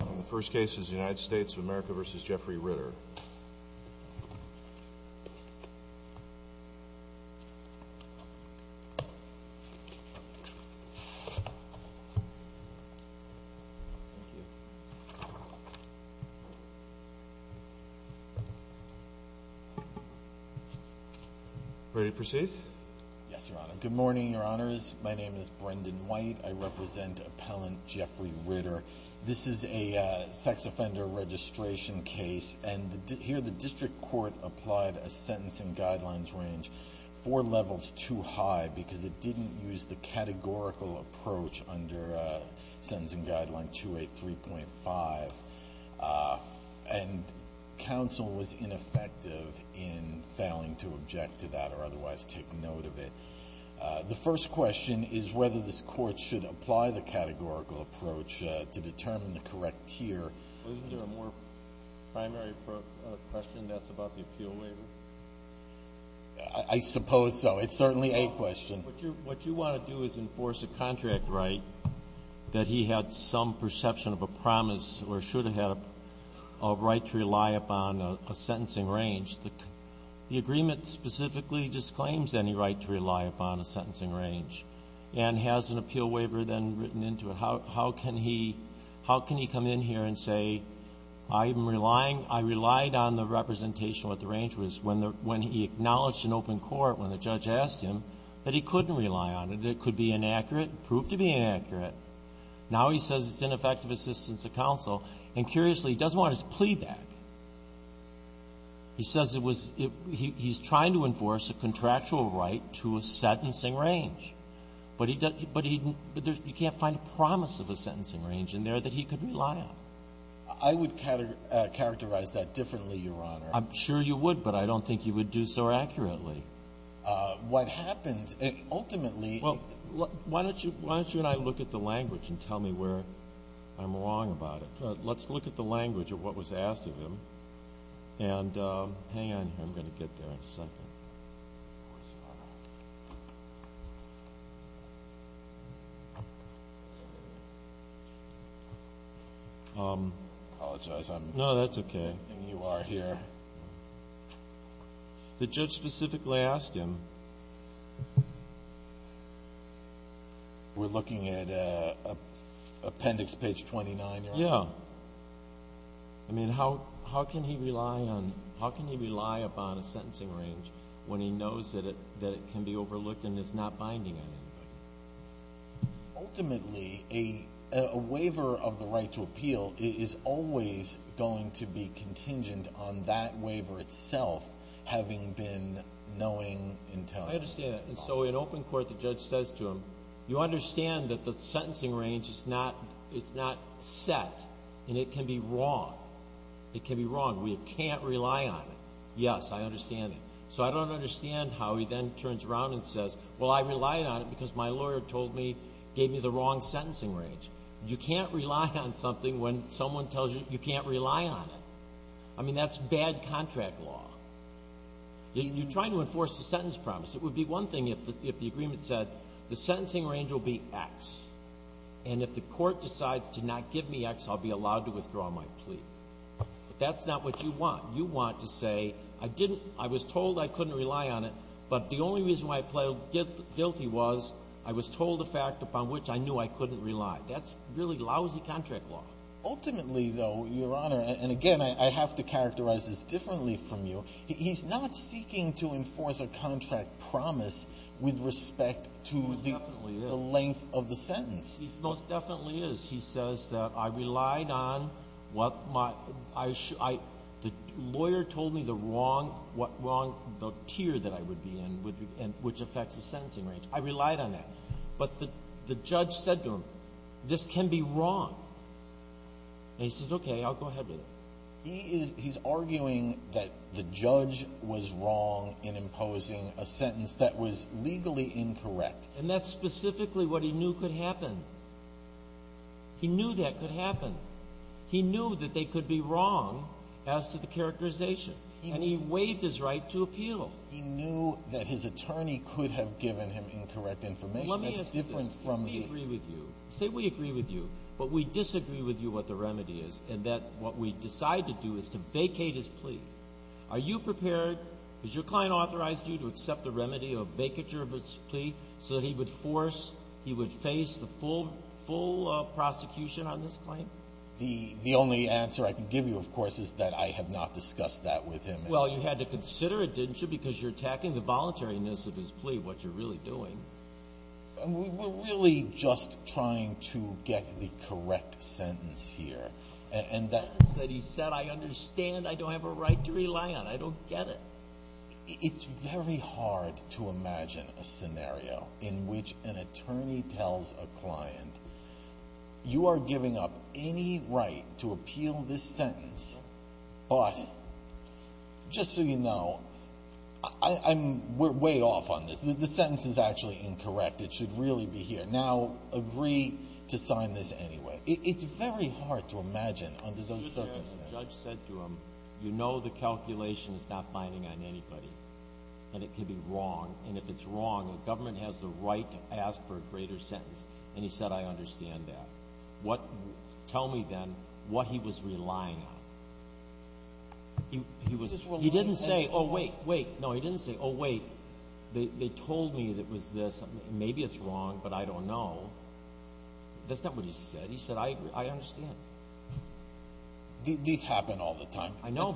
The first case is the United States of America v. Jeffrey Ritter. Ready to proceed? Yes, Your Honor. Good morning, Your Honors. My name is Brendan White. I represent Appellant Jeffrey Ritter. This is a sex offender registration case, and here the district court applied a sentence and guidelines range four levels too high because it didn't use the categorical approach under sentence and guideline 283.5, and counsel was ineffective in failing to object to that or otherwise take note of it. The first question is whether this court should apply the categorical approach to determine the correct tier. Isn't there a more primary question that's about the appeal waiver? I suppose so. It's certainly a question. What you want to do is enforce a contract right that he had some perception of a promise or should have had a right to rely upon a sentencing range. The agreement specifically disclaims any right to rely upon a sentencing range and has an appeal waiver then written into it. How can he come in here and say, I relied on the representation what the range was when he acknowledged in open court when the judge asked him that he couldn't rely on it, it could be inaccurate, proved to be inaccurate. Now he says it's ineffective assistance to counsel, and curiously, he doesn't want his plea back. He says it was he's trying to enforce a contractual right to a sentencing range. But he doesn't, but he, you can't find a promise of a sentencing range in there that he could rely on. I would characterize that differently, Your Honor. I'm sure you would, but I don't think you would do so accurately. What happened, ultimately. Well, why don't you and I look at the language and tell me where I'm wrong about it. Let's look at the language of what was asked of him, and hang on here, I'm going to get there in a second. I apologize. No, that's okay. I don't think you are here. The judge specifically asked him. We're looking at appendix page 29, Your Honor? Yeah. I mean, how can he rely upon a sentencing range when he knows that it can be overlooked and is not binding on anybody? Ultimately, a waiver of the right to appeal is always going to be contingent on that waiver itself having been knowing and telling. I understand that. And so in open court, the judge says to him, you understand that the sentencing range is not set, and it can be wrong. It can be wrong. We can't rely on it. Yes, I understand it. So I don't understand how he then turns around and says, well, I relied on it because my lawyer told me, gave me the wrong sentencing range. You can't rely on something when someone tells you you can't rely on it. I mean, that's bad contract law. You're trying to enforce the sentence promise. It would be one thing if the agreement said the sentencing range will be X, and if the contract says to not give me X, I'll be allowed to withdraw my plea. But that's not what you want. You want to say, I was told I couldn't rely on it, but the only reason why I plead guilty was I was told the fact upon which I knew I couldn't rely. That's really lousy contract law. Ultimately, though, Your Honor, and again, I have to characterize this differently from you, he's not seeking to enforce a contract promise with respect to the length of the sentence. He most definitely is. He says that I relied on what my – I – the lawyer told me the wrong – what wrong – the tier that I would be in, which affects the sentencing range. I relied on that. But the judge said to him, this can be wrong. And he says, okay, I'll go ahead with it. He is – he's arguing that the judge was wrong in imposing a sentence that was legally incorrect. And that's specifically what he knew could happen. He knew that could happen. He knew that they could be wrong as to the characterization. And he waived his right to appeal. He knew that his attorney could have given him incorrect information. That's different from the – Let me ask you this. We agree with you. Say we agree with you, but we disagree with you what the remedy is, and that what we decide to do is to vacate his plea. Are you prepared – has your client authorized you to accept the remedy of that he would force – he would face the full prosecution on this claim? The only answer I can give you, of course, is that I have not discussed that with him. Well, you had to consider it, didn't you, because you're attacking the voluntariness of his plea, what you're really doing. We're really just trying to get the correct sentence here. The sentence that he said, I understand. I don't have a right to rely on. I don't get it. It's very hard to imagine a scenario in which an attorney tells a client, you are giving up any right to appeal this sentence, but just so you know, I'm way off on this. The sentence is actually incorrect. It should really be here. Now, agree to sign this anyway. It's very hard to imagine under those circumstances. The judge said to him, you know the calculation is not binding on anybody and it could be wrong. And if it's wrong, the government has the right to ask for a greater sentence. And he said, I understand that. Tell me then what he was relying on. He didn't say, oh, wait, wait. No, he didn't say, oh, wait. They told me it was this. Maybe it's wrong, but I don't know. That's not what he said. He said, I agree. I don't understand. These happen all the time. I know.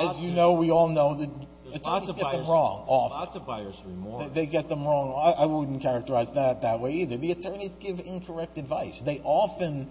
As you know, we all know that attorneys get them wrong often. There's lots of buyer's remorse. They get them wrong. I wouldn't characterize that that way either. The attorneys give incorrect advice. They often,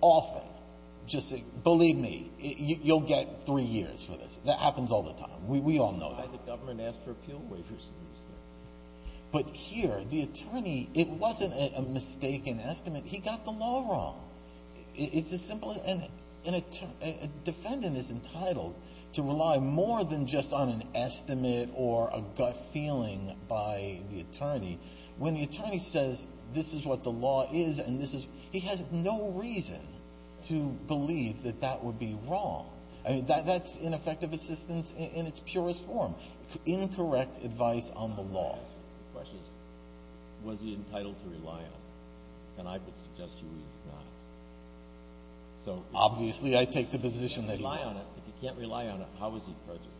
often just say, believe me, you'll get three years for this. That happens all the time. We all know that. Why did the government ask for appeal waivers in these things? But here, the attorney, it wasn't a mistaken estimate. He got the law wrong. It's as simple as, a defendant is entitled to rely more than just on an estimate or a gut feeling by the attorney. When the attorney says, this is what the law is and this is, he has no reason to believe that that would be wrong. That's ineffective assistance in its purest form. Incorrect advice on the law. The question is, was he entitled to rely on it? And I would suggest to you, he's not. So obviously, I take the position that he was. If he can't rely on it, how is he prejudiced?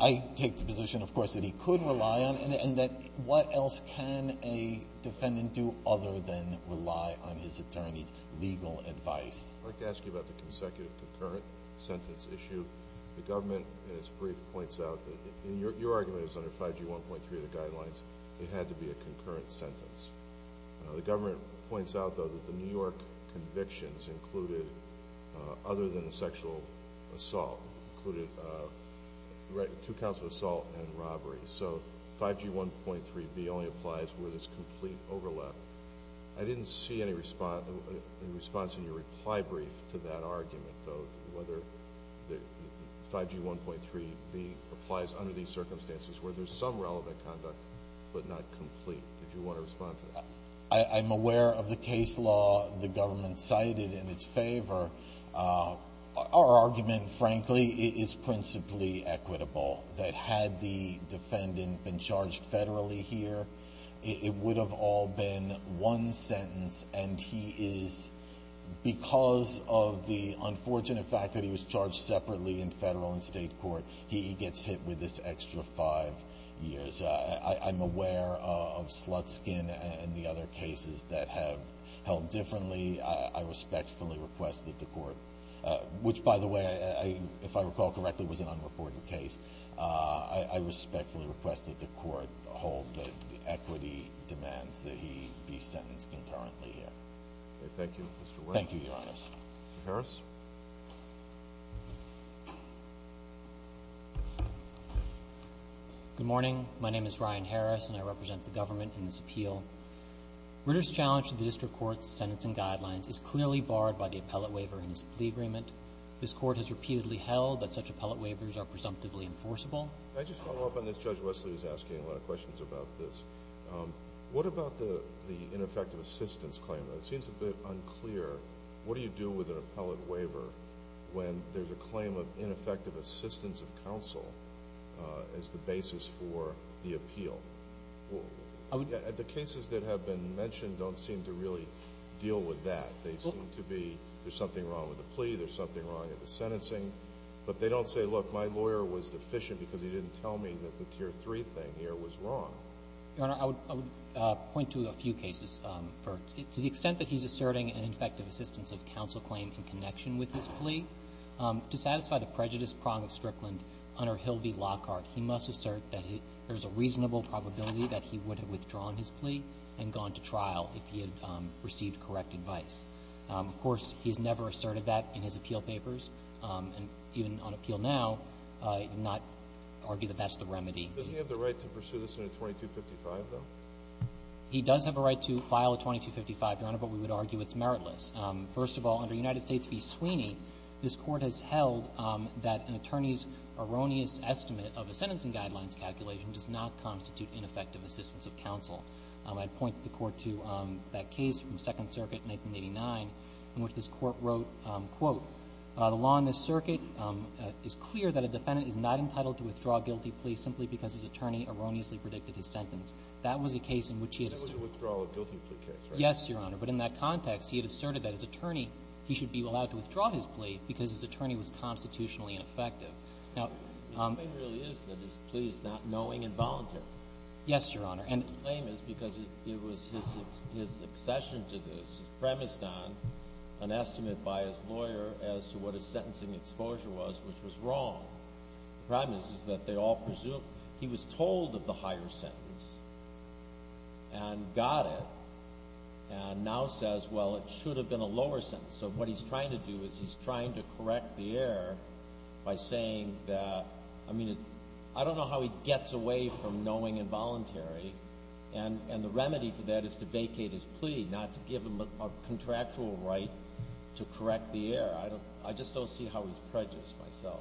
I take the position, of course, that he could rely on it, and that what else can a defendant do other than rely on his attorney's legal advice? I'd like to ask you about the consecutive concurrent sentence issue. The government, in its brief, points out that your argument is under 5G 1.3 of the guidelines. It had to be a concurrent sentence. The government points out, though, that the New York convictions included, other than sexual assault, included two counts of assault and robbery. So, 5G 1.3b only applies where there's complete overlap. I didn't see any response in your reply brief to that argument, though, whether 5G 1.3b applies under these circumstances, where there's some relevant conduct, but not complete. Did you want to respond to that? I'm aware of the case law the government cited in its favor. Our argument, frankly, is principally equitable, that had the defendant been charged federally here, it would have all been one sentence, and he is, because of the unfortunate fact that he was charged separately in federal and state court, he gets hit with this extra five years. I'm aware of Slutskin and the other cases that have held differently. I respectfully request that the court, which, by the way, if I recall correctly, was an unreported case, I respectfully request that the court hold the equity demands that he be sentenced concurrently here. Thank you, Mr. Williams. Thank you, Your Honors. Mr. Harris? Good morning. My name is Ryan Harris, and I represent the government in this appeal. Ritter's challenge to the district court's sentencing guidelines is clearly barred by the appellate waiver in this plea agreement. This court has repeatedly held that such appellate waivers are presumptively enforceable. Can I just follow up on this? Judge Wesley was asking a lot of questions about this. What about the ineffective assistance claim? It seems a bit unclear. What do you do with an appellate waiver when there's a claim of ineffective assistance of counsel as the basis for the appeal? The cases that have been mentioned don't seem to really deal with that. They seem to be there's something wrong with the plea, there's something wrong with the sentencing, but they don't say, look, my lawyer was deficient because he didn't tell me that the tier three thing here was wrong. Your Honor, I would point to a few cases. To the extent that he's asserting an ineffective assistance of counsel claim in connection with his plea, to satisfy the prejudice prong of Strickland, under Hill v. Lockhart, he must assert that there's a reasonable probability that he would have withdrawn his plea and gone to trial if he had received correct advice. Of course, he's never asserted that in his appeal papers, and even on appeal now, he did not argue that that's the remedy. Does he have the right to pursue this in a 2255, though? He does have a right to file a 2255, Your Honor, but we would argue it's meritless. First of all, under United States v. Sweeney, this Court has held that an attorney's erroneous estimate of a sentencing guidelines calculation does not constitute ineffective assistance of counsel. I'd point the Court to that case from Second Circuit, 1989, in which this Court wrote, quote, the law in this circuit is clear that a defendant is not entitled to withdraw a guilty plea simply because his attorney erroneously predicted his sentence. That was a case in which he had asserted. That was a withdrawal of guilty plea case, right? Yes, Your Honor. But in that context, he had asserted that his attorney, he should be allowed to withdraw his plea because his attorney was constitutionally ineffective. Now... His claim really is that his plea is not knowing and voluntary. Yes, Your Honor, and... His claim is because it was his accession to this, his premise done, an estimate by his lawyer as to what his sentencing exposure was, which was wrong. The premise is that they all presume he was told of the higher sentence and got it and now says, well, it should have been a lower sentence. So what he's trying to do is he's trying to correct the error by saying that, I mean, it's... I don't know how he gets away from knowing and voluntary and the remedy for that is to vacate his plea, not to give him a contractual right to correct the error. I just don't see how he's prejudiced myself.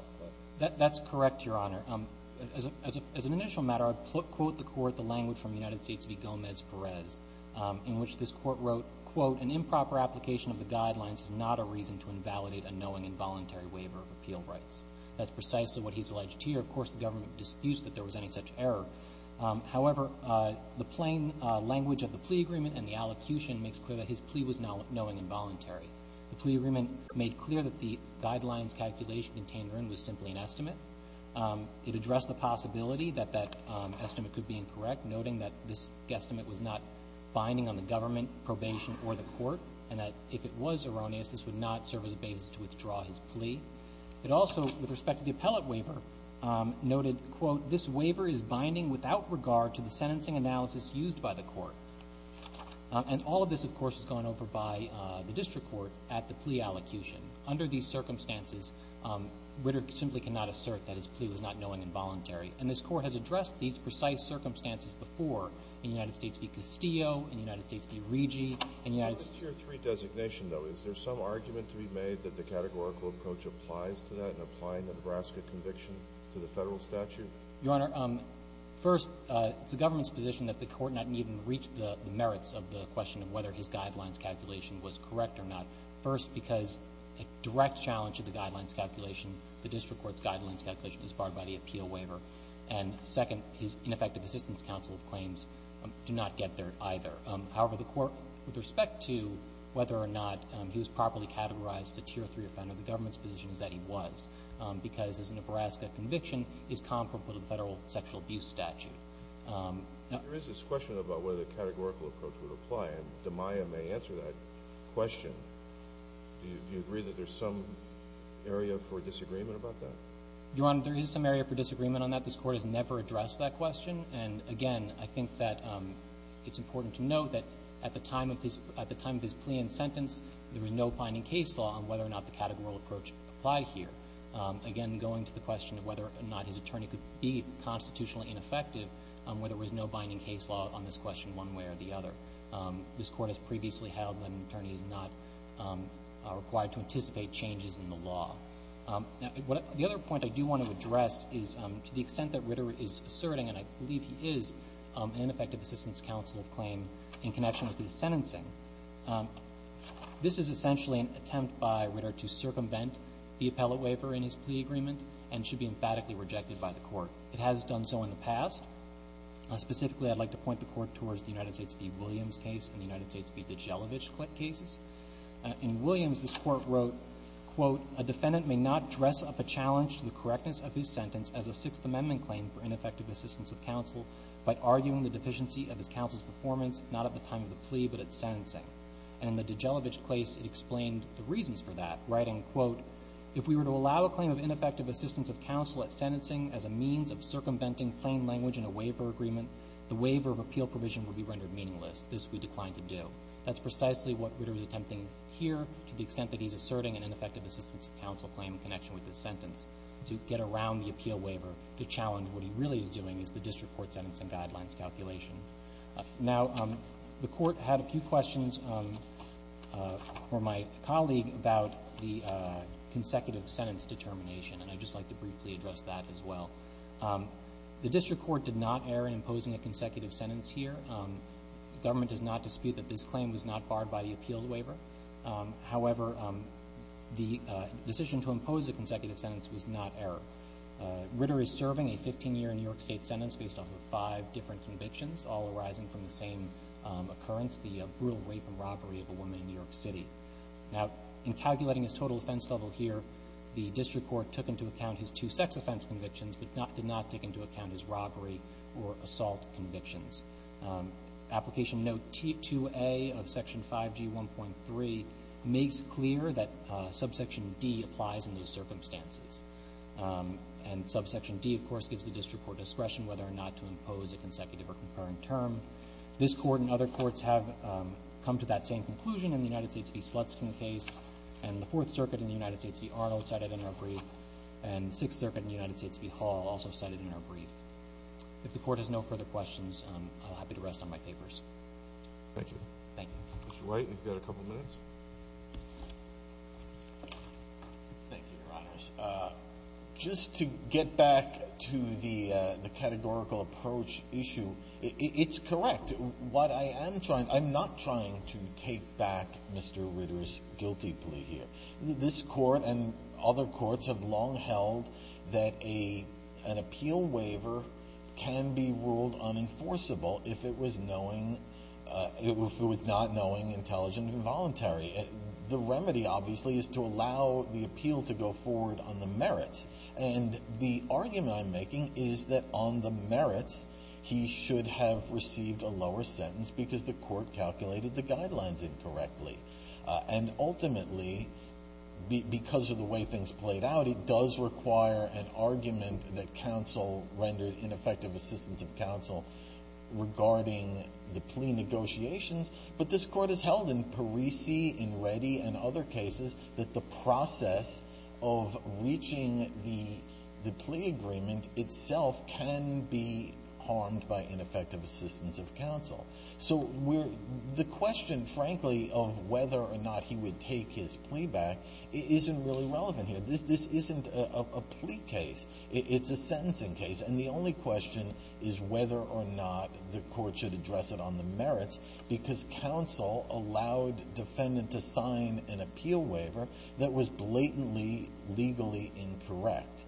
That's correct, Your Honor. As an initial matter, I'd quote the Court the language from the United States v. Gomez-Perez, in which this Court wrote, an improper application of the guidelines is not a reason to invalidate a knowing and voluntary waiver of appeal rights. That's precisely what he's alleged here. Of course, the government disputes that there was any such error. However, the plain language of the plea agreement and the allocution makes clear that his plea was knowing and voluntary. The plea agreement made clear that the guidelines calculation contained was simply an estimate. It addressed the possibility that that estimate could be incorrect, noting that this guesstimate was not binding on the government, probation, or the Court, and that if it was erroneous, this would not serve as a basis to withdraw his plea. It also, with respect to the appellate waiver, noted, quote, this waiver is binding without regard to the sentencing analysis used by the Court. And all of this, of course, has gone over by the district court at the plea allocution. Under these circumstances, Ritter simply cannot assert that his plea was not knowing and voluntary. And this Court has addressed these precise circumstances before in the United States v. Castillo, in the United States v. Regi, in the United States... In the Tier 3 designation, though, is there some argument to be made that the categorical approach applies to that in applying the Nebraska conviction to the Federal statute? Your Honor, first, it's the government's position that the Court not even reach the merits of the question of whether his guidelines calculation was correct or not. First, because a direct challenge to the guidelines calculation, the district court's guidelines calculation is barred by the appeal waiver. And second, his ineffective assistance counsel's claims do not get there either. However, the Court, with respect to whether or not he was properly categorized as a Tier 3 offender, the government's position is that he was, because his Nebraska conviction is comparable to the Federal sexual abuse statute. There is this question about whether the categorical approach would apply, and Damaya may answer that question. Do you agree that there's some area for disagreement about that? Your Honor, there is some area for disagreement on that. This Court has never addressed that question, and again, I think that it's important to note that at the time of his plea and sentence, there was no binding case law on whether or not the categorical approach applied here. Again, going to the question of whether or not his attorney could be constitutionally ineffective, where there was no binding case law on this question one way or the other. This Court has previously held that an attorney is not required to anticipate changes in the law. The other point I do want to address is to the extent that Ritter is asserting, and I believe he is, an ineffective assistance counsel of claim in connection with his sentencing. This is essentially an attempt by Ritter to circumvent the appellate waiver in his plea agreement, and should be emphatically rejected by the Court. It has done so in the past. Specifically, I'd like to point the Court towards the United States v. Williams case and the United States v. DiGelovich cases. In Williams, this Court wrote, quote, a defendant may not dress up a challenge to the correctness of his sentence as a Sixth Amendment claim for ineffective assistance of counsel by arguing the deficiency of his counsel's performance, not at the time of the plea, but at sentencing. And in the DiGelovich case, it explained the reasons for that, writing, quote, if we were to allow a claim of ineffective assistance of counsel at sentencing as a means of circumventing plain language in a waiver agreement, the waiver of appeal provision would be rendered meaningless. This we decline to do. That's precisely what Ritter is attempting here, to the extent that he is asserting an ineffective assistance of counsel claim in connection with this sentence, to get around the appeal waiver, to challenge what he really is doing is the district court sentencing guidelines calculation. Now, the Court had a few questions for my colleague about the consecutive sentence determination, and I'd just like to briefly address that as well. The district court did not err in imposing a consecutive sentence here. The government does not dispute that this claim was not barred by the appeals waiver. However, the decision to impose a consecutive sentence was not error. Ritter is serving a 15-year New York State sentence based off of five different convictions, all arising from the same occurrence, the brutal rape and robbery of a woman in New York City. Now, in calculating his total offense level here, the district court took into account his two sex offense convictions, but did not take into account his robbery or assault convictions. Application Note 2A of Section 5G1.3 makes clear that Subsection D applies in those circumstances. And Subsection D, of course, gives the district court discretion whether or not to impose a consecutive or concurrent term. This Court and other courts have come to that same conclusion in the United States v. Slutskin case, and the Fourth Circuit in the United States v. Arnold cited in our brief, and the Sixth Circuit in the United States v. Hall also cited in our brief. If the Court has no further questions, I'm happy to rest on my papers. Thank you. Thank you. Mr. White, you've got a couple minutes. Thank you, Your Honors. Just to get back to the categorical approach issue, it's correct. What I am trying, I'm not trying to take back Mr. Ritter's guilty plea here. This Court and other courts have long held that an appeal waiver can be ruled unenforceable if it was knowing, if it was not knowing, intelligent, or involuntary. The remedy, obviously, is to allow the appeal to go forward on the merits. And the argument I'm making is that on the merits he should have received a lower sentence because the Court calculated the guidelines incorrectly. And ultimately, because of the way things played out, it does require an argument that counsel rendered ineffective assistance of counsel regarding the plea negotiations. But this Court has held in Parisi, in Reddy, and other cases that the process of reaching the plea agreement itself can be harmed by ineffective assistance of counsel. So the question, frankly, of whether or not he would take his plea back isn't really relevant here. This isn't a plea case. It's a sentencing case. And the only question is whether or not the Court should address it on the merits because counsel allowed defendant to sign an appeal waiver that was blatantly legally incorrect.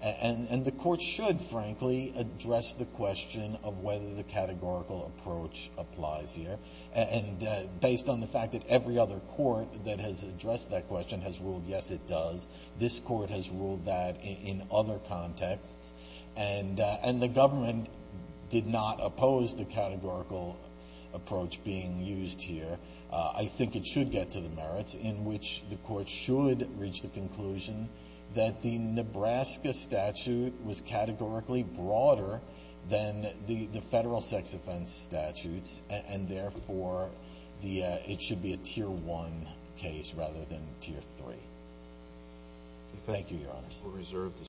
And the Court should, frankly, address the question of whether the categorical approach applies here. And based on the fact that every other court that has addressed that question has ruled, yes, it does. This Court has ruled that in other contexts. And the government did not oppose the categorical approach being used here. I think it should get to the merits in which the Court should reach the conclusion that the Nebraska statute was categorically broader than the federal sex offense statutes and therefore it should be a Tier 1 case rather than Tier 3. Thank you, Your Honor.